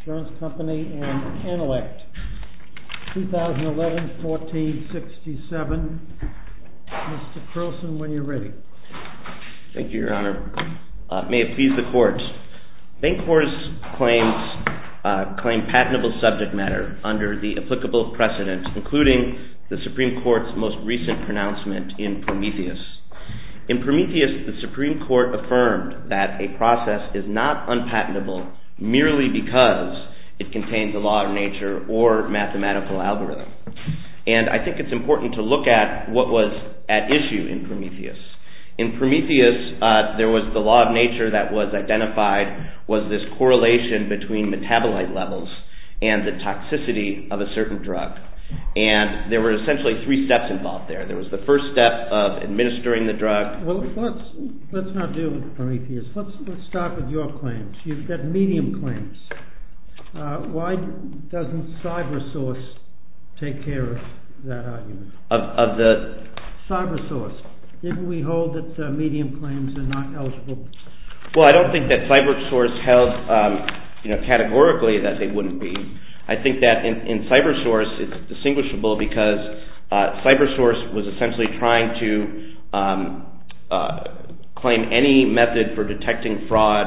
ASSURANCE COMPANY, AND ANELECT, 2011-14-67. Mr. Croson, when you're ready. Thank you, Your Honor. May it please the Court, BANCORP's claims claim patentable subject matter under the applicable precedent, including the Supreme Court's most recent pronouncement in Prometheus. In Prometheus, the Supreme Court affirmed that a process is not unpatentable merely because it contains a law of nature or mathematical algorithm. And I think it's important to look at what was at issue in Prometheus. In Prometheus, there was the law of nature that was identified was this correlation between metabolite levels and the toxicity of a certain drug. And there were essentially three steps involved there. There was the first step of administering the drug. Well, let's not deal with Prometheus. Let's start with your claims. You've got medium claims. Why doesn't CyberSource take care of that argument? Of the? CyberSource. Didn't we hold that medium claims are not eligible? Well, I don't think that CyberSource held categorically that they wouldn't be. I think that in CyberSource, it's distinguishable because CyberSource was essentially trying to claim any method for detecting fraud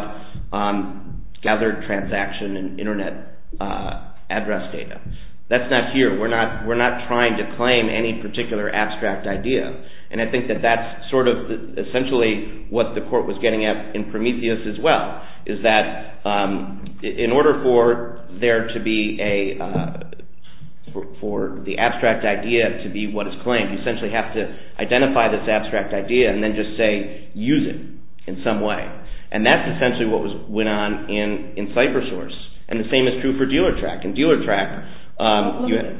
on gathered transaction and Internet address data. That's not here. We're not trying to claim any particular abstract idea. And I think that that's sort of essentially what the court was getting at in Prometheus as well is that in order for there to be a – for the abstract idea to be what is claimed, you essentially have to identify this abstract idea and then just say use it in some way. And that's essentially what went on in CyberSource. And the same is true for Dealertrack. In Dealertrack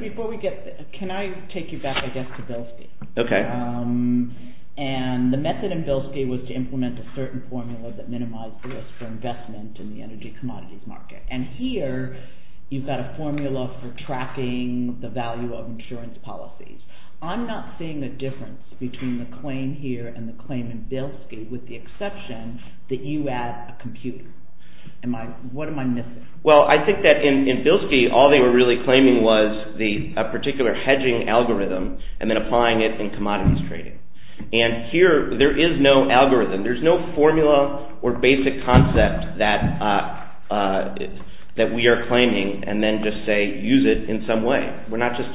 – Before we get – can I take you back, I guess, to Bilski? Okay. And the method in Bilski was to implement a certain formula that minimized risk for investment in the energy commodities market. And here, you've got a formula for tracking the value of insurance policies. I'm not seeing a difference between the claim here and the claim in Bilski with the exception that you add a computer. What am I missing? Well, I think that in Bilski, all they were really claiming was a particular hedging algorithm and then applying it in commodities trading. And here, there is no algorithm. There's no formula or basic concept that we are claiming and then just say use it in some way. We're not just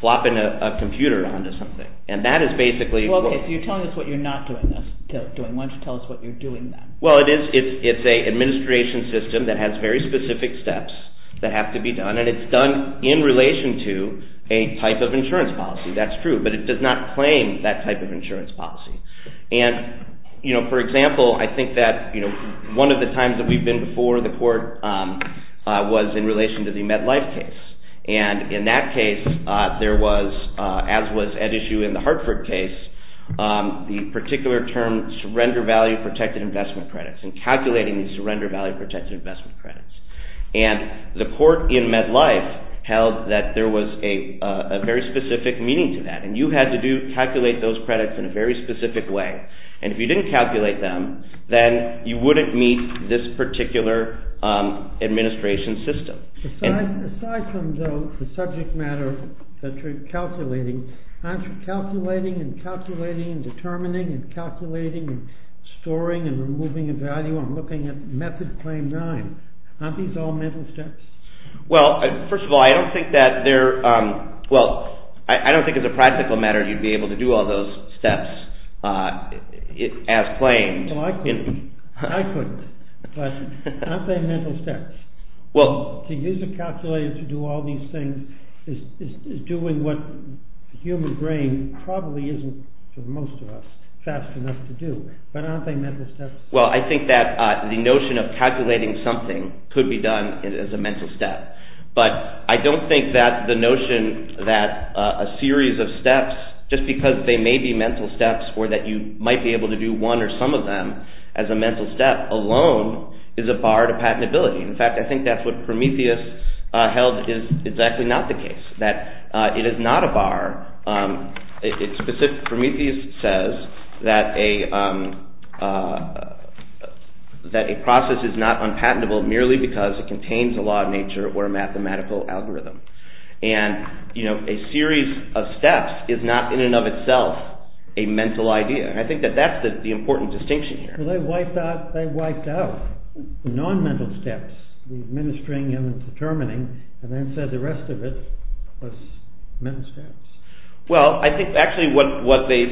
flopping a computer onto something. And that is basically – Okay. So you're telling us what you're not doing. Why don't you tell us what you're doing then? Well, it's an administration system that has very specific steps that have to be done. And it's done in relation to a type of insurance policy. That's true. But it does not claim that type of insurance policy. And for example, I think that one of the times that we've been before the court was in relation to the MetLife case. And in that case, there was, as was at issue in the Hartford case, the particular term surrender value protected investment credits and calculating the surrender value protected investment credits. And the court in MetLife held that there was a very specific meaning to that. And you had to calculate those credits in a very specific way. And if you didn't calculate them, then you wouldn't meet this particular administration system. Aside from the subject matter that you're calculating, aren't you calculating and calculating and determining and calculating and storing and removing a value? I'm looking at Method Claim 9. Aren't these all mental steps? Well, first of all, I don't think that they're – well, I don't think as a practical matter you'd be able to do all those steps as claimed. Well, I couldn't. I couldn't. But aren't they mental steps? To use a calculator to do all these things is doing what the human brain probably isn't, for most of us, fast enough to do. But aren't they mental steps? Well, I think that the notion of calculating something could be done as a mental step. But I don't think that the notion that a series of steps, just because they may be mental steps or that you might be able to do one or some of them as a mental step alone is a bar to patentability. In fact, I think that's what Prometheus held is exactly not the case, that it is not a bar. Prometheus says that a process is not unpatentable merely because it contains a law of nature or a mathematical algorithm. And a series of steps is not in and of itself a mental idea. I think that that's the important distinction here. So they wiped out the non-mental steps, the administering and determining, and then said the rest of it was mental steps. Well, I think actually what they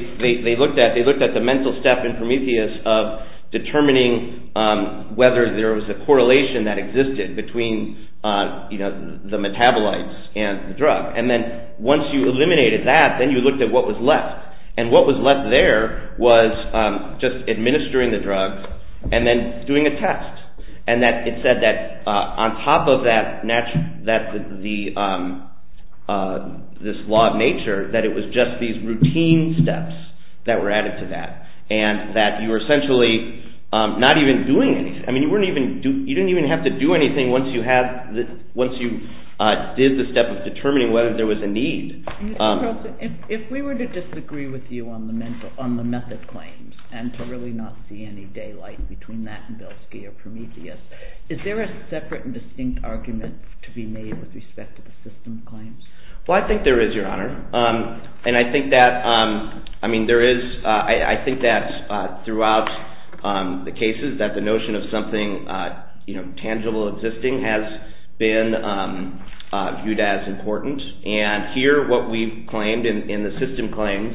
looked at, they looked at the mental step in Prometheus of determining whether there was a correlation that existed between the metabolites and the drug. And then once you eliminated that, then you looked at what was left. And what was left there was just administering the drug and then doing a test. And it said that on top of this law of nature, that it was just these routine steps that were added to that. And that you were essentially not even doing anything. I mean, you didn't even have to do anything once you did the step of determining whether there was a need. If we were to disagree with you on the method claims and to really not see any daylight between that and Belsky or Prometheus, is there a separate and distinct argument to be made with respect to the systems claims? Well, I think there is, Your Honor. And I think that throughout the cases that the notion of something tangible existing has been viewed as important. And here what we've claimed in the system claims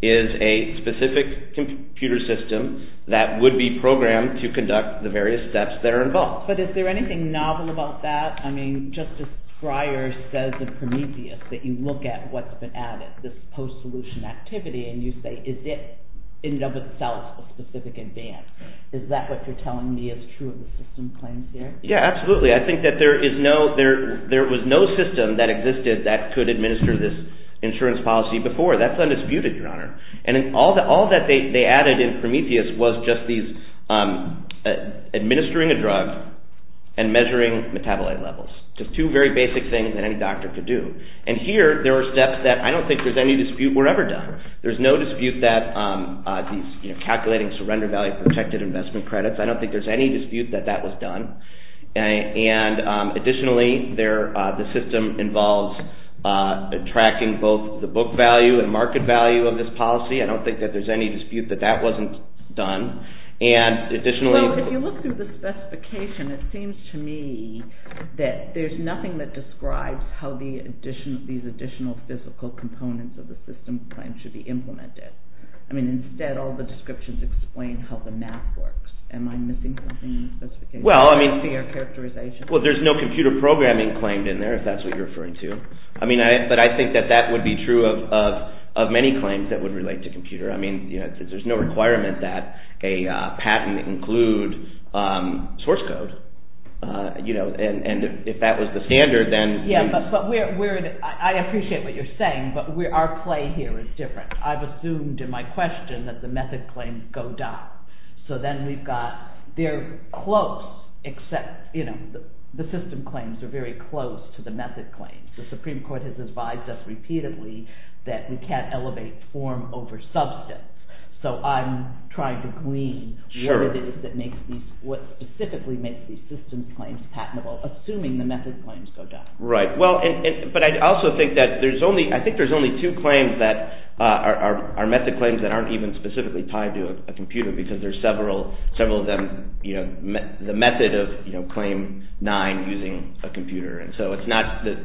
is a specific computer system that would be programmed to conduct the various steps that are involved. But is there anything novel about that? I mean, Justice Breyer says in Prometheus that you look at what's been added, this post-solution activity, and you say, is it in and of itself a specific advance? Is that what you're telling me is true of the system claims here? Yeah, absolutely. I think that there was no system that existed that could administer this insurance policy before. That's undisputed, Your Honor. And all that they added in Prometheus was just administering a drug and measuring metabolite levels. Just two very basic things that any doctor could do. And here there are steps that I don't think there's any dispute were ever done. There's no dispute that calculating surrender value protected investment credits. I don't think there's any dispute that that was done. And additionally, the system involves tracking both the book value and market value of this policy. I don't think that there's any dispute that that wasn't done. Well, if you look through the specification, it seems to me that there's nothing that describes how these additional physical components of the system claim should be implemented. I mean, instead, all the descriptions explain how the map works. Am I missing something in the specification? Well, I mean, there's no computer programming claimed in there, if that's what you're referring to. I mean, but I think that that would be true of many claims that would relate to computer. I mean, there's no requirement that a patent include source code. And if that was the standard, then... I appreciate what you're saying, but our play here is different. I've assumed in my question that the method claims go down. So then we've got – they're close, except the system claims are very close to the method claims. The Supreme Court has advised us repeatedly that we can't elevate form over substance. So I'm trying to glean what it is that makes these – what specifically makes these system claims patentable, assuming the method claims go down. Right. Well, but I also think that there's only – I think there's only two claims that are method claims that aren't even specifically tied to a computer because there's several of them – the method of claim nine using a computer. And so it's not that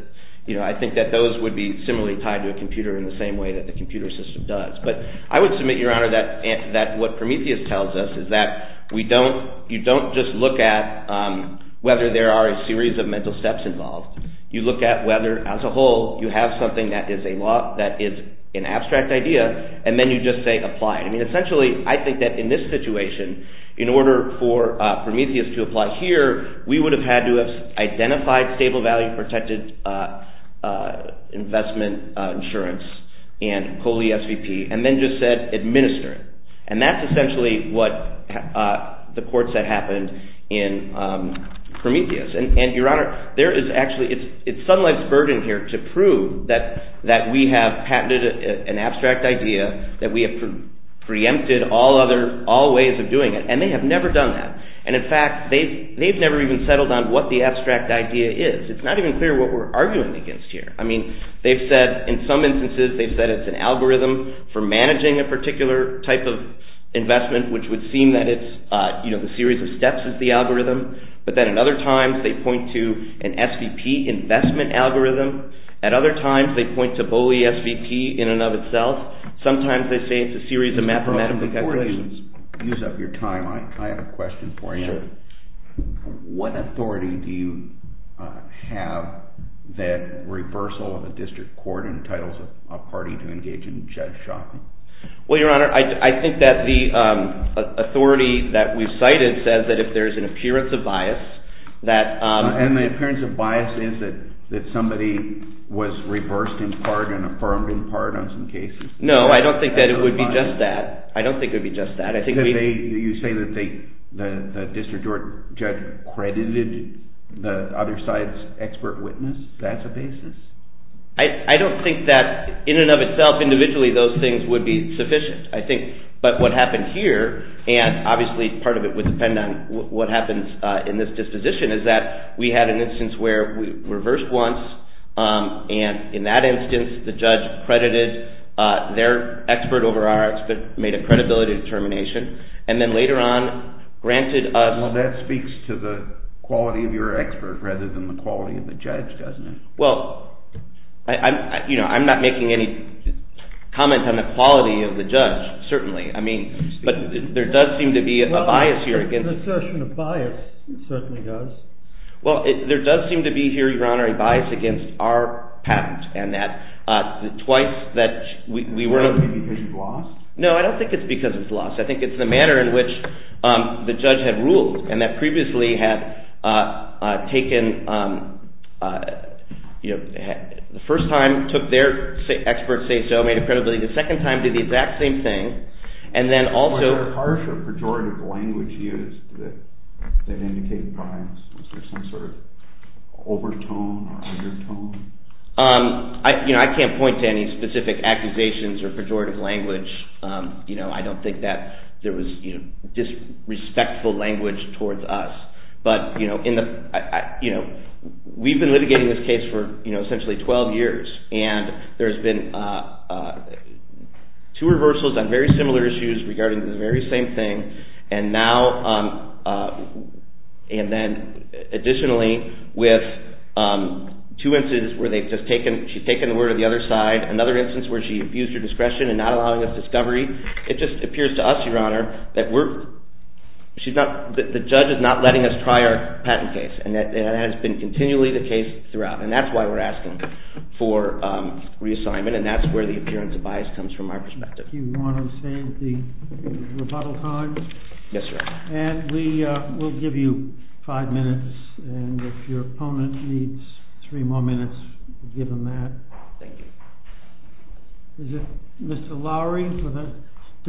– I think that those would be similarly tied to a computer in the same way that the computer system does. But I would submit, Your Honor, that what Prometheus tells us is that we don't – you don't just look at whether there are a series of mental steps involved. You look at whether, as a whole, you have something that is a law – that is an abstract idea, and then you just say apply. I mean, essentially, I think that in this situation, in order for Prometheus to apply here, we would have had to have identified stable value protected investment insurance and COLE SVP and then just said administer it. And that's essentially what the court said happened in Prometheus. And, Your Honor, there is actually – it's Sun Life's burden here to prove that we have patented an abstract idea, that we have preempted all other – all ways of doing it, and they have never done that. And, in fact, they've never even settled on what the abstract idea is. It's not even clear what we're arguing against here. I mean, they've said – in some instances, they've said it's an algorithm for managing a particular type of investment, which would seem that it's – the series of steps is the algorithm. But then at other times, they point to an SVP investment algorithm. At other times, they point to BOLE SVP in and of itself. Sometimes they say it's a series of mathematical calculations. Your Honor, before you use up your time, I have a question for you. What authority do you have that reversal of a district court entitles a party to engage in judge shopping? Well, Your Honor, I think that the authority that we've cited says that if there's an appearance of bias that – And the appearance of bias is that somebody was reversed in part and affirmed in part on some cases? No, I don't think that it would be just that. I don't think it would be just that. I think we – You say that the district court judge credited the other side's expert witness? That's a basis? I don't think that in and of itself, individually, those things would be sufficient, I think. But what happened here, and obviously part of it would depend on what happens in this disposition, is that we had an instance where we reversed once. And in that instance, the judge credited their expert over ours but made a credibility determination. And then later on, granted us – Well, that speaks to the quality of your expert rather than the quality of the judge, doesn't it? Well, you know, I'm not making any comment on the quality of the judge, certainly. I mean, but there does seem to be a bias here against – Well, the assertion of bias certainly does. Well, there does seem to be here, Your Honor, a bias against our patent and that twice that we were – Do you think it's because it's lost? The first time took their expert say-so, made a credibility, the second time did the exact same thing, and then also – Was there harsh or pejorative language used that indicated bias? Was there some sort of overtone or undertone? I can't point to any specific accusations or pejorative language. I don't think that there was disrespectful language towards us. But, you know, we've been litigating this case for essentially 12 years, and there's been two reversals on very similar issues regarding the very same thing. And now – and then additionally with two instances where they've just taken – she's taken the word of the other side, another instance where she abused her discretion in not allowing us discovery. It just appears to us, Your Honor, that we're – she's not – the judge is not letting us try our patent case, and that has been continually the case throughout, and that's why we're asking for reassignment, and that's where the appearance of bias comes from our perspective. Do you want to save the rebuttal time? Yes, Your Honor. And we will give you five minutes, and if your opponent needs three more minutes, we'll give him that. Thank you. Is it Mr. Lowery for the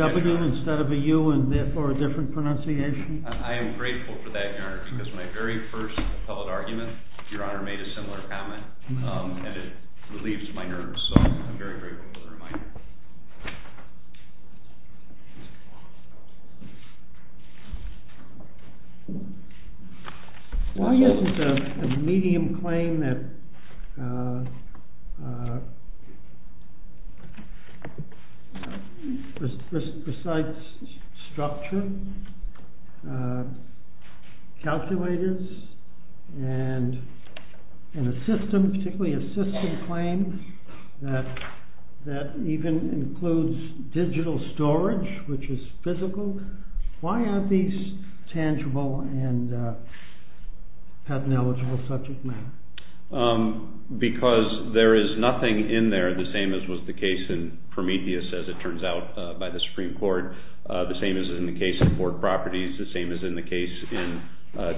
W instead of a U, and therefore a different pronunciation? I am grateful for that, Your Honor, because when I very first held argument, Your Honor made a similar comment, and it relieves my nerves, so I'm very grateful for the reminder. Why isn't a medium claim that – besides structure, calculators, and a system, particularly a system claim that even includes digital storage, which is physical, why aren't these tangible and patent-eligible subject matter? Because there is nothing in there the same as was the case in Prometheus, as it turns out, by the Supreme Court, the same as in the case of Borg Properties, the same as in the case in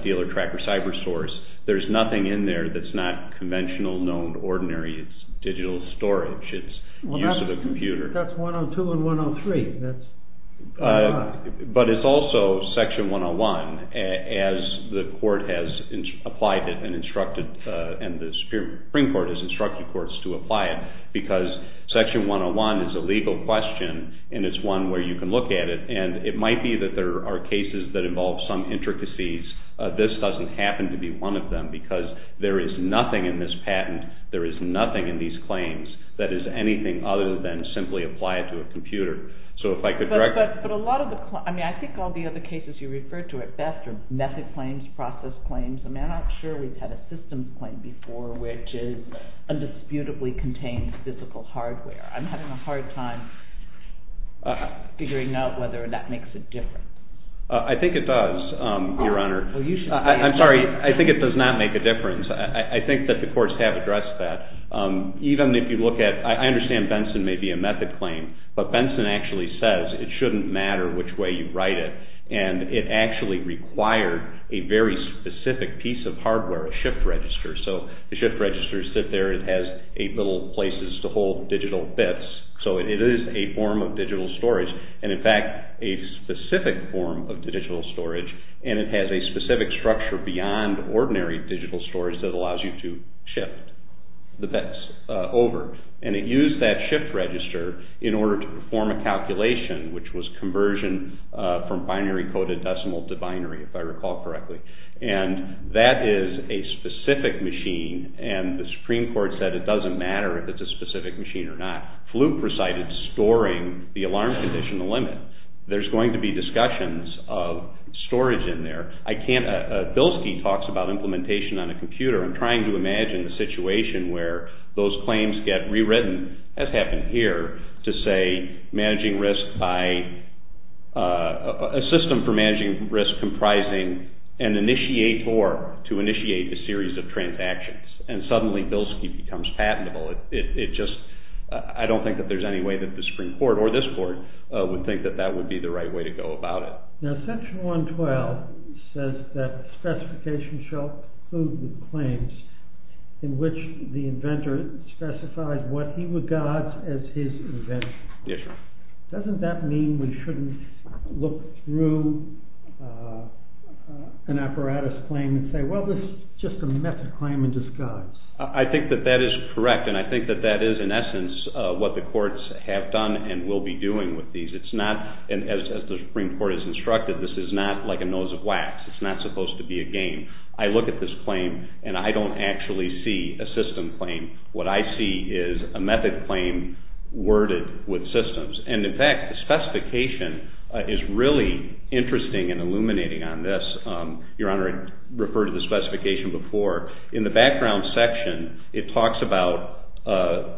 Dealer Tracker Cybersource. There's nothing in there that's not conventional, known, ordinary. It's digital storage. It's use of a computer. That's 102 and 103. But it's also Section 101, as the Supreme Court has instructed courts to apply it, because Section 101 is a legal question, and it's one where you can look at it, and it might be that there are cases that involve some intricacies. This doesn't happen to be one of them, because there is nothing in this patent, there is nothing in these claims that is anything other than simply apply it to a computer. So if I could – But a lot of the – I mean, I think all the other cases you referred to at best are method claims, process claims. I'm not sure we've had a system claim before which is indisputably contained physical hardware. I'm having a hard time figuring out whether that makes a difference. I think it does, Your Honor. I'm sorry, I think it does not make a difference. I think that the courts have addressed that. Even if you look at – I understand Benson may be a method claim, but Benson actually says it shouldn't matter which way you write it, and it actually required a very specific piece of hardware, a shift register. So the shift registers sit there. It has eight little places to hold digital bits. So it is a form of digital storage. And, in fact, a specific form of digital storage, and it has a specific structure beyond ordinary digital storage that allows you to shift the bits over. And it used that shift register in order to perform a calculation, which was conversion from binary code to decimal to binary, if I recall correctly. And that is a specific machine, and the Supreme Court said it doesn't matter if it's a specific machine or not. Fluke recited storing the alarm condition a limit. There's going to be discussions of storage in there. I can't – Bilski talks about implementation on a computer. I'm trying to imagine a situation where those claims get rewritten, as happened here, to say a system for managing risk comprising an initiator to initiate a series of transactions. And suddenly Bilski becomes patentable. It just – I don't think that there's any way that the Supreme Court, or this court, would think that that would be the right way to go about it. Now, Section 112 says that specifications shall conclude with claims in which the inventor specifies what he regards as his invention. Yes, sir. Doesn't that mean we shouldn't look through an apparatus claim and say, well, this is just a method claim in disguise? I think that that is correct, and I think that that is, in essence, what the courts have done and will be doing with these. It's not – as the Supreme Court has instructed, this is not like a nose of wax. It's not supposed to be a game. I look at this claim, and I don't actually see a system claim. What I see is a method claim worded with systems. And, in fact, the specification is really interesting and illuminating on this. Your Honor, I referred to the specification before. In the background section, it talks about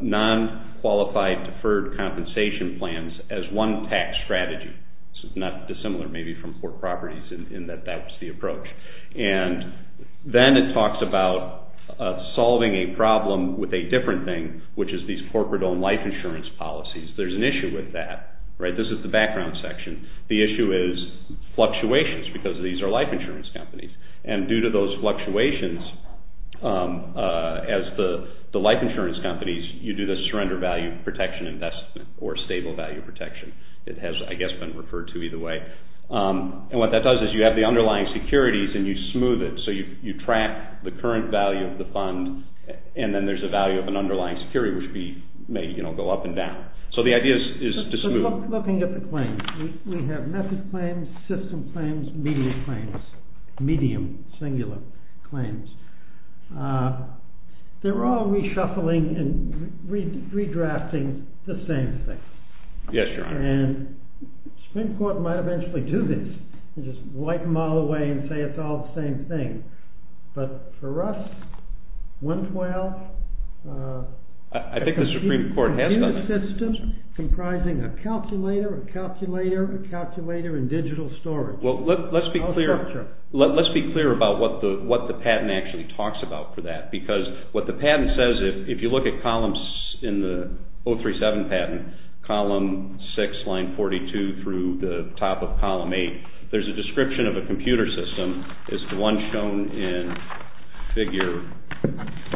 non-qualified deferred compensation plans as one tax strategy. It's not dissimilar, maybe, from poor properties in that that was the approach. And then it talks about solving a problem with a different thing, which is these corporate-owned life insurance policies. There's an issue with that. This is the background section. The issue is fluctuations because these are life insurance companies. And due to those fluctuations, as the life insurance companies, you do the surrender value protection investment or stable value protection. It has, I guess, been referred to either way. And what that does is you have the underlying securities, and you smooth it. So you track the current value of the fund, and then there's a value of an underlying security, which may go up and down. So the idea is to smooth it. Looking at the claims, we have method claims, system claims, medium claims, medium, singular claims. They're all reshuffling and redrafting the same thing. Yes, Your Honor. And the Supreme Court might eventually do this and just wipe them all away and say it's all the same thing. But for us, 112... I think the Supreme Court has done that. ...comprising a calculator, a calculator, a calculator, and digital storage. Well, let's be clear about what the patent actually talks about for that because what the patent says, if you look at columns in the 037 patent, column 6, line 42 through the top of column 8, there's a description of a computer system. It's the one shown in figure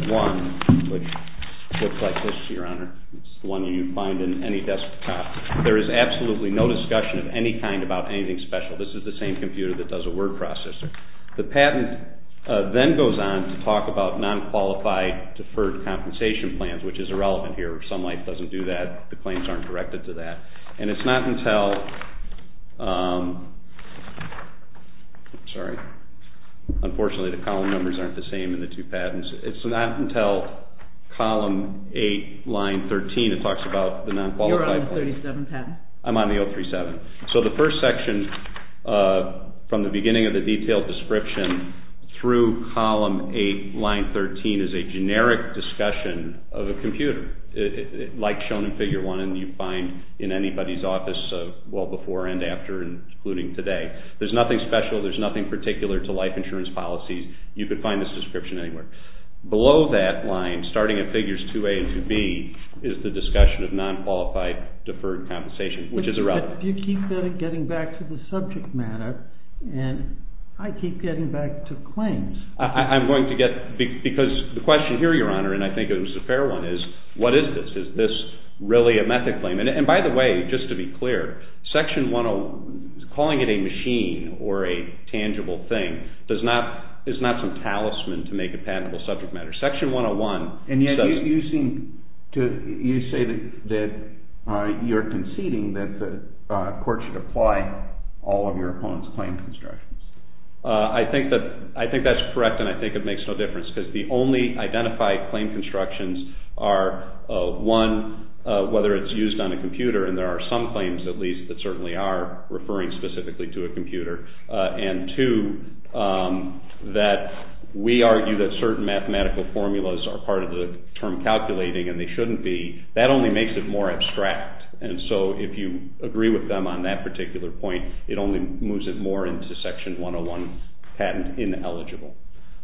1, which looks like this, Your Honor. It's the one you find in any desktop. There is absolutely no discussion of any kind about anything special. This is the same computer that does a word processor. The patent then goes on to talk about non-qualified deferred compensation plans, which is irrelevant here. Some life doesn't do that. The claims aren't directed to that. And it's not until... I'm sorry. Unfortunately, the column numbers aren't the same in the two patents. It's not until column 8, line 13, it talks about the non-qualified plan. You're on the 037 patent. I'm on the 037. So the first section from the beginning of the detailed description through column 8, line 13, is a generic discussion of a computer, like shown in figure 1 and you find in anybody's office well before and after, including today. There's nothing special. There's nothing particular to life insurance policies. You could find this description anywhere. Below that line, starting in figures 2A and 2B, is the discussion of non-qualified deferred compensation, which is irrelevant. But you keep getting back to the subject matter, and I keep getting back to claims. I'm going to get... Because the question here, Your Honor, and I think it was a fair one, is what is this? Is this really a method claim? And by the way, just to be clear, section 101, calling it a machine or a tangible thing, is not some talisman to make a patentable subject matter. Section 101 says... And yet you say that you're conceding that the court should apply all of your opponent's claim constructions. I think that's correct, and I think it makes no difference because the only identified claim constructions are, one, whether it's used on a computer, and there are some claims, at least, that certainly are referring specifically to a computer, and two, that we argue that certain mathematical formulas are part of the term calculating and they shouldn't be. That only makes it more abstract, and so if you agree with them on that particular point, it only moves it more into section 101, patent ineligible.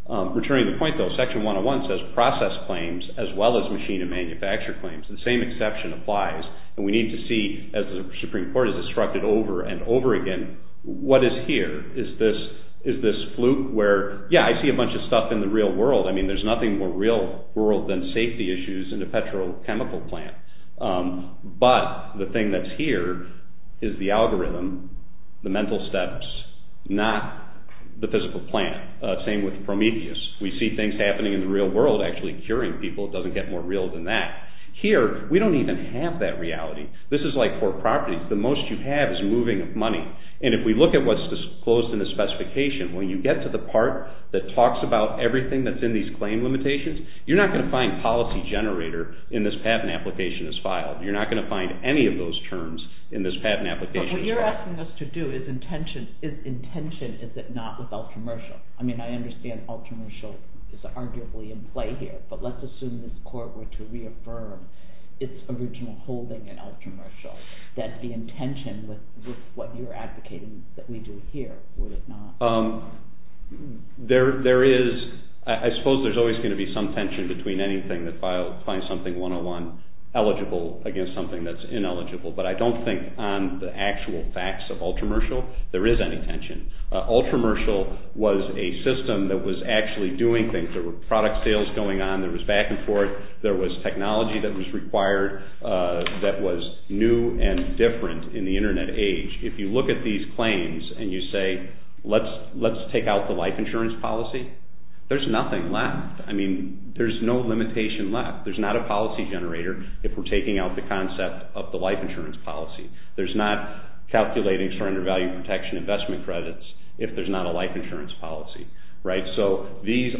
Returning to the point, though, section 101 says process claims as well as machine and manufacturer claims. The same exception applies, and we need to see, as the Supreme Court is instructed over and over again, what is here? Is this fluke where, yeah, I see a bunch of stuff in the real world. I mean, there's nothing more real world than safety issues in a petrochemical plant, but the thing that's here is the algorithm, the mental steps, not the physical plant. Same with Prometheus. We see things happening in the real world actually curing people. It doesn't get more real than that. Here, we don't even have that reality. This is like for properties. The most you have is moving money, and if we look at what's disclosed in the specification, when you get to the part that talks about everything that's in these claim limitations, you're not going to find policy generator in this patent application as filed. You're not going to find any of those terms in this patent application. But what you're asking us to do is intention. Is intention, is it not, with ultramercial? I mean, I understand ultramercial is arguably in play here, but let's assume this court were to reaffirm its original holding in ultramercial, that the intention with what you're advocating that we do here, would it not? There is, I suppose there's always going to be some tension between anything that finds something 101 eligible against something that's ineligible, but I don't think on the actual facts of ultramercial there is any tension. Ultramercial was a system that was actually doing things. There were product sales going on. There was back and forth. There was technology that was required that was new and different in the internet age. If you look at these claims and you say, let's take out the life insurance policy, there's nothing left. I mean, there's no limitation left. There's not a policy generator if we're taking out the concept of the life insurance policy. There's not calculating surrender value protection investment credits if there's not a life insurance policy. So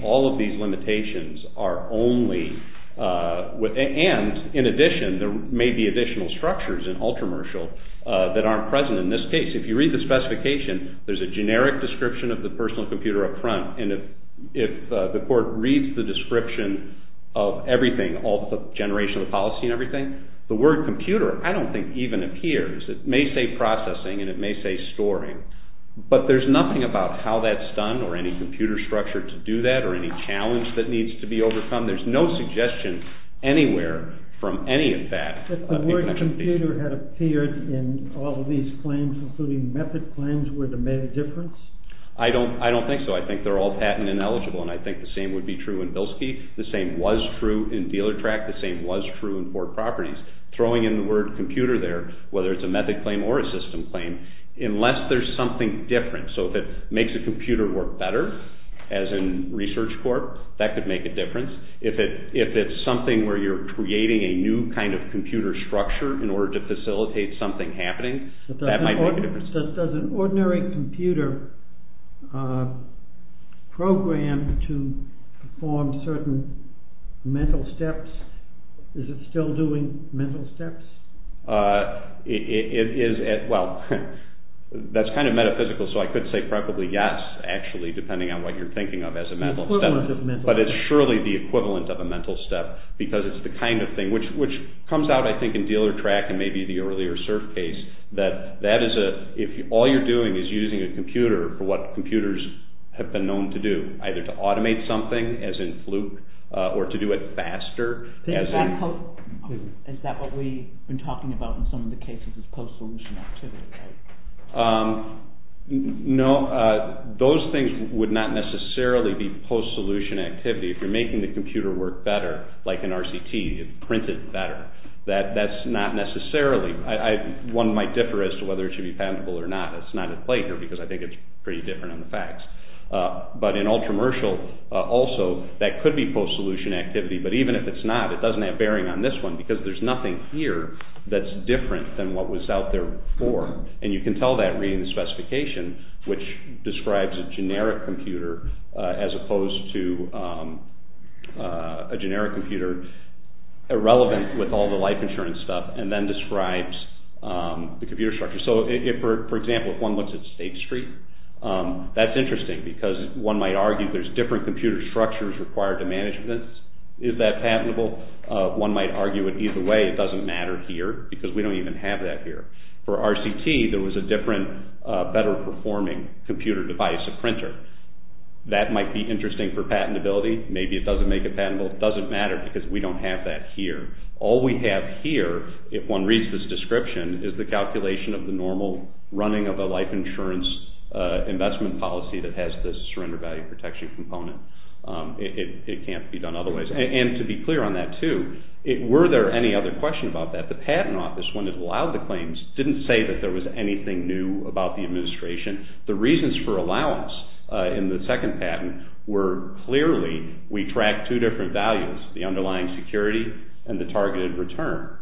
all of these limitations are only, and in addition, there may be additional structures in ultramercial that aren't present in this case. If you read the specification, there's a generic description of the personal computer up front, and if the court reads the description of everything, all the generation of the policy and everything, the word computer I don't think even appears. It may say processing and it may say storing, but there's nothing about how that's done or any computer structure to do that or any challenge that needs to be overcome. There's no suggestion anywhere from any of that. If the word computer had appeared in all of these claims, including method claims, would it have made a difference? I don't think so. I think they're all patent ineligible, and I think the same would be true in Bilski. The same was true in DealerTrack. The same was true in Port Properties. Throwing in the word computer there, whether it's a method claim or a system claim, unless there's something different. So if it makes a computer work better, as in ResearchCorp, that could make a difference. If it's something where you're creating a new kind of computer structure in order to facilitate something happening, that might make a difference. Does an ordinary computer program to perform certain mental steps? Is it still doing mental steps? It is. Well, that's kind of metaphysical, so I could say probably yes, actually, depending on what you're thinking of as a mental step. But it's surely the equivalent of a mental step because it's the kind of thing, which comes out, I think, in DealerTrack and maybe the earlier CERF case, that all you're doing is using a computer for what computers have been known to do, either to automate something, as in Fluke, or to do it faster. Is that what we've been talking about in some of the cases, is post-solution activity, right? No. Those things would not necessarily be post-solution activity. If you're making the computer work better, like in RCT, it's printed better. That's not necessarily. One might differ as to whether it should be patentable or not. It's not at play here because I think it's pretty different on the facts. But in Ultramercial, also, that could be post-solution activity. But even if it's not, it doesn't have bearing on this one because there's nothing here that's different than what was out there before. And you can tell that reading the specification, which describes a generic computer as opposed to a generic computer irrelevant with all the life insurance stuff, and then describes the computer structure. So, for example, if one looks at State Street, that's interesting because one might argue there's different computer structures required to manage this. Is that patentable? One might argue it either way. It doesn't matter here because we don't even have that here. For RCT, there was a different, better-performing computer device, a printer. That might be interesting for patentability. Maybe it doesn't make it patentable. It doesn't matter because we don't have that here. All we have here, if one reads this description, is the calculation of the normal running of a life insurance investment policy that has the surrender value protection component. It can't be done otherwise. And to be clear on that, too, were there any other questions about that? The Patent Office, when it allowed the claims, didn't say that there was anything new about the administration. The reasons for allowance in the second patent were clearly we tracked two different values, the underlying security and the targeted return.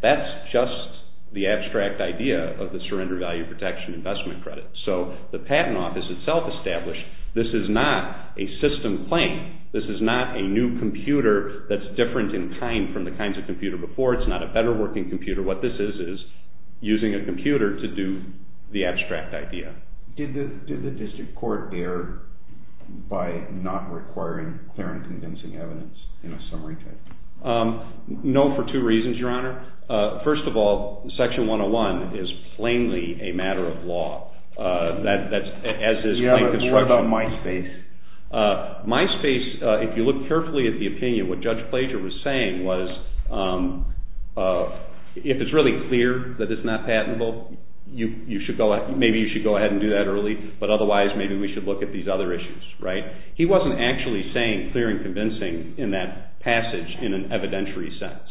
That's just the abstract idea of the surrender value protection investment credit. So the Patent Office itself established this is not a system claim. This is not a new computer that's different in kind from the kinds of computers before. It's not a better-working computer. What this is is using a computer to do the abstract idea. Did the district court err by not requiring clear and convincing evidence in a summary case? No, for two reasons, Your Honor. What about MySpace? MySpace, if you look carefully at the opinion, what Judge Plager was saying was if it's really clear that it's not patentable, maybe you should go ahead and do that early, but otherwise maybe we should look at these other issues. He wasn't actually saying clear and convincing in that passage in an evidentiary sense.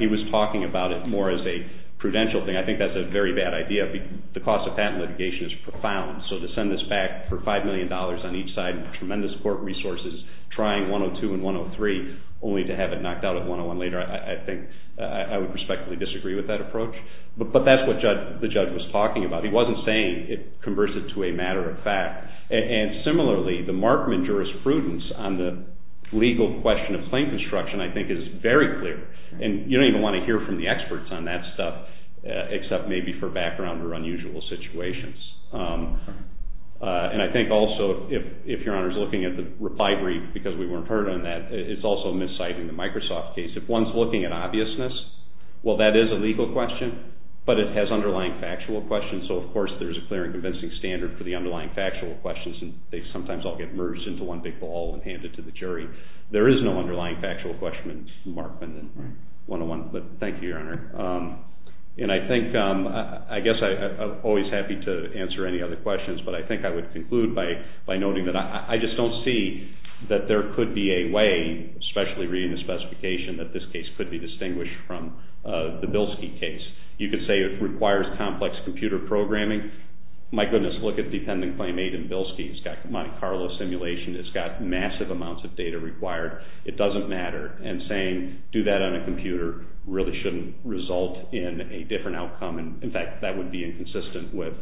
He was talking about it more as a prudential thing. I think that's a very bad idea. The cost of patent litigation is profound. So to send this back for $5 million on each side, tremendous court resources, trying 102 and 103 only to have it knocked out at 101 later, I think I would respectfully disagree with that approach. But that's what the judge was talking about. He wasn't saying it converts it to a matter of fact. And similarly, the Markman jurisprudence on the legal question of claim construction, I think, is very clear. And you don't even want to hear from the experts on that stuff except maybe for background or unusual situations. And I think also, if Your Honor is looking at the reply brief, because we weren't heard on that, it's also misciting the Microsoft case. If one's looking at obviousness, well, that is a legal question, but it has underlying factual questions. So, of course, there's a clear and convincing standard for the underlying factual questions, and they sometimes all get merged into one big ball and handed to the jury. There is no underlying factual question in Markman 101. But thank you, Your Honor. And I think, I guess I'm always happy to answer any other questions, but I think I would conclude by noting that I just don't see that there could be a way, especially reading the specification, that this case could be distinguished from the Bilski case. You could say it requires complex computer programming. My goodness, look at the Dependent Claim 8 in Bilski. It's got Monte Carlo simulation. It's got massive amounts of data required. It doesn't matter. And saying, do that on a computer, really shouldn't result in a different outcome. In fact, that would be inconsistent with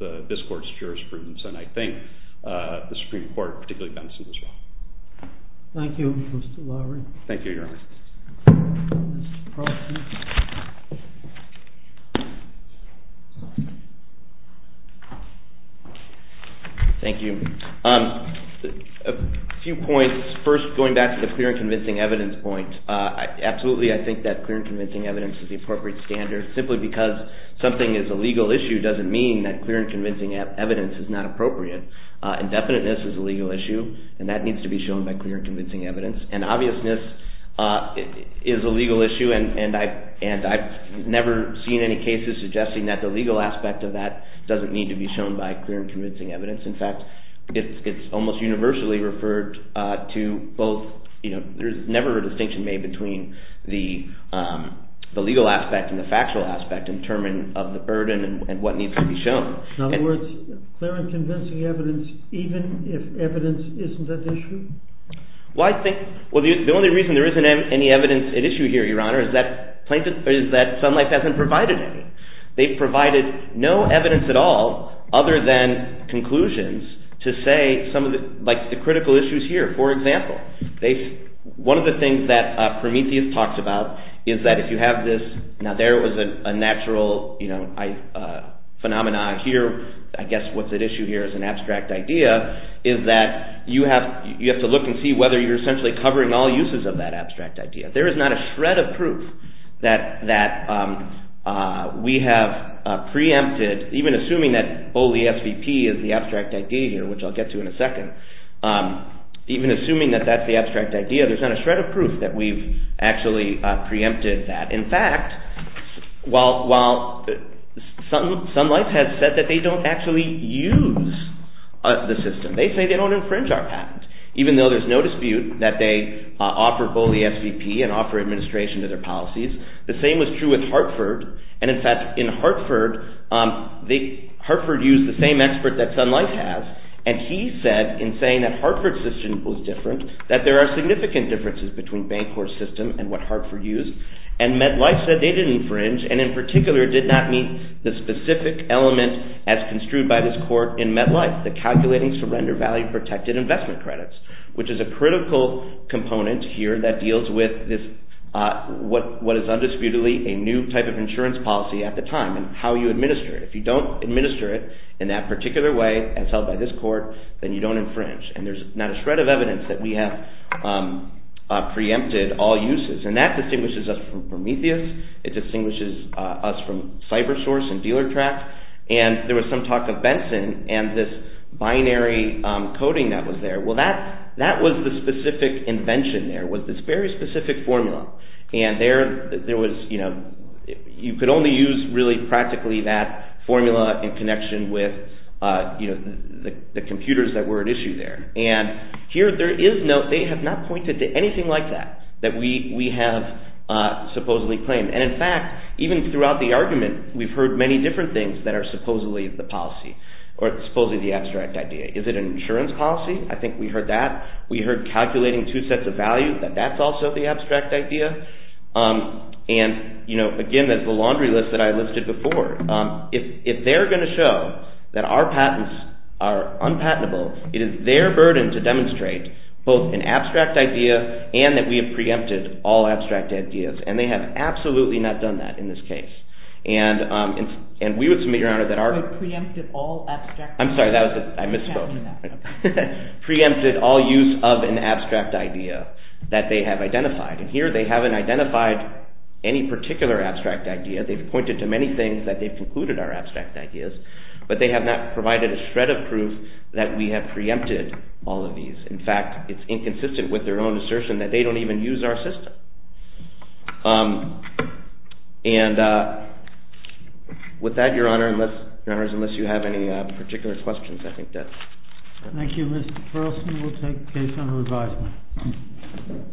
this court's jurisprudence, and I think the Supreme Court, particularly Benson, as well. Thank you, Mr. Lowry. Thank you, Your Honor. Thank you. A few points. First, going back to the clear and convincing evidence point. Absolutely, I think that clear and convincing evidence is the appropriate standard. Simply because something is a legal issue doesn't mean that clear and convincing evidence is not appropriate. Indefiniteness is a legal issue, and that needs to be shown by clear and convincing evidence. And obviousness is a legal issue, and I've never seen any cases suggesting that the legal aspect of that doesn't need to be shown by clear and convincing evidence. In fact, it's almost universally referred to both— there's never a distinction made between the legal aspect and the factual aspect in terms of the burden and what needs to be shown. In other words, clear and convincing evidence, even if evidence isn't at issue? Well, I think—well, the only reason there isn't any evidence at issue here, Your Honor, is that sunlight hasn't provided any. They've provided no evidence at all other than conclusions to say some of the critical issues here. For example, one of the things that Prometheus talks about is that if you have this— now, there was a natural phenomenon here. I guess what's at issue here is an abstract idea, is that you have to look and see whether you're essentially covering all uses of that abstract idea. There is not a shred of proof that we have preempted— even assuming that BOLI SVP is the abstract idea here, which I'll get to in a second— even assuming that that's the abstract idea, there's not a shred of proof that we've actually preempted that. In fact, while sunlight has said that they don't actually use the system, they say they don't infringe our patent, even though there's no dispute that they offer BOLI SVP and offer administration to their policies. The same was true with Hartford. And in fact, in Hartford, Hartford used the same expert that sunlight has, and he said in saying that Hartford's system was different, that there are significant differences between Bancorp's system and what Hartford used. And MetLife said they didn't infringe, and in particular, did not meet the specific element as construed by this court in MetLife, the calculating surrender value-protected investment credits, which is a critical component here that deals with what is undisputedly a new type of insurance policy at the time and how you administer it. If you don't administer it in that particular way as held by this court, then you don't infringe. And there's not a shred of evidence that we have preempted all uses. And that distinguishes us from Prometheus. It distinguishes us from CyberSource and DealerTrack. And there was some talk of Benson and this binary coding that was there. Well, that was the specific invention there, was this very specific formula. And you could only use really practically that formula in connection with the computers that were at issue there. And here, they have not pointed to anything like that that we have supposedly claimed. And, in fact, even throughout the argument, we've heard many different things that are supposedly the policy or supposedly the abstract idea. Is it an insurance policy? I think we heard that. We heard calculating two sets of value, that that's also the abstract idea. And, you know, again, that's the laundry list that I listed before. If they're going to show that our patents are unpatentable, it is their burden to demonstrate both an abstract idea and that we have preempted all abstract ideas. And they have absolutely not done that in this case. And we would submit, Your Honor, that our preempted all abstract ideas. I'm sorry, I misspoke. Preempted all use of an abstract idea that they have identified. And here, they haven't identified any particular abstract idea. They've pointed to many things that they've concluded are abstract ideas, but they have not provided a shred of proof that we have preempted all of these. In fact, it's inconsistent with their own assertion that they don't even use our system. And with that, Your Honor, unless you have any particular questions, I think that's it. Thank you, Mr. Perlston. We'll take the case under advisement.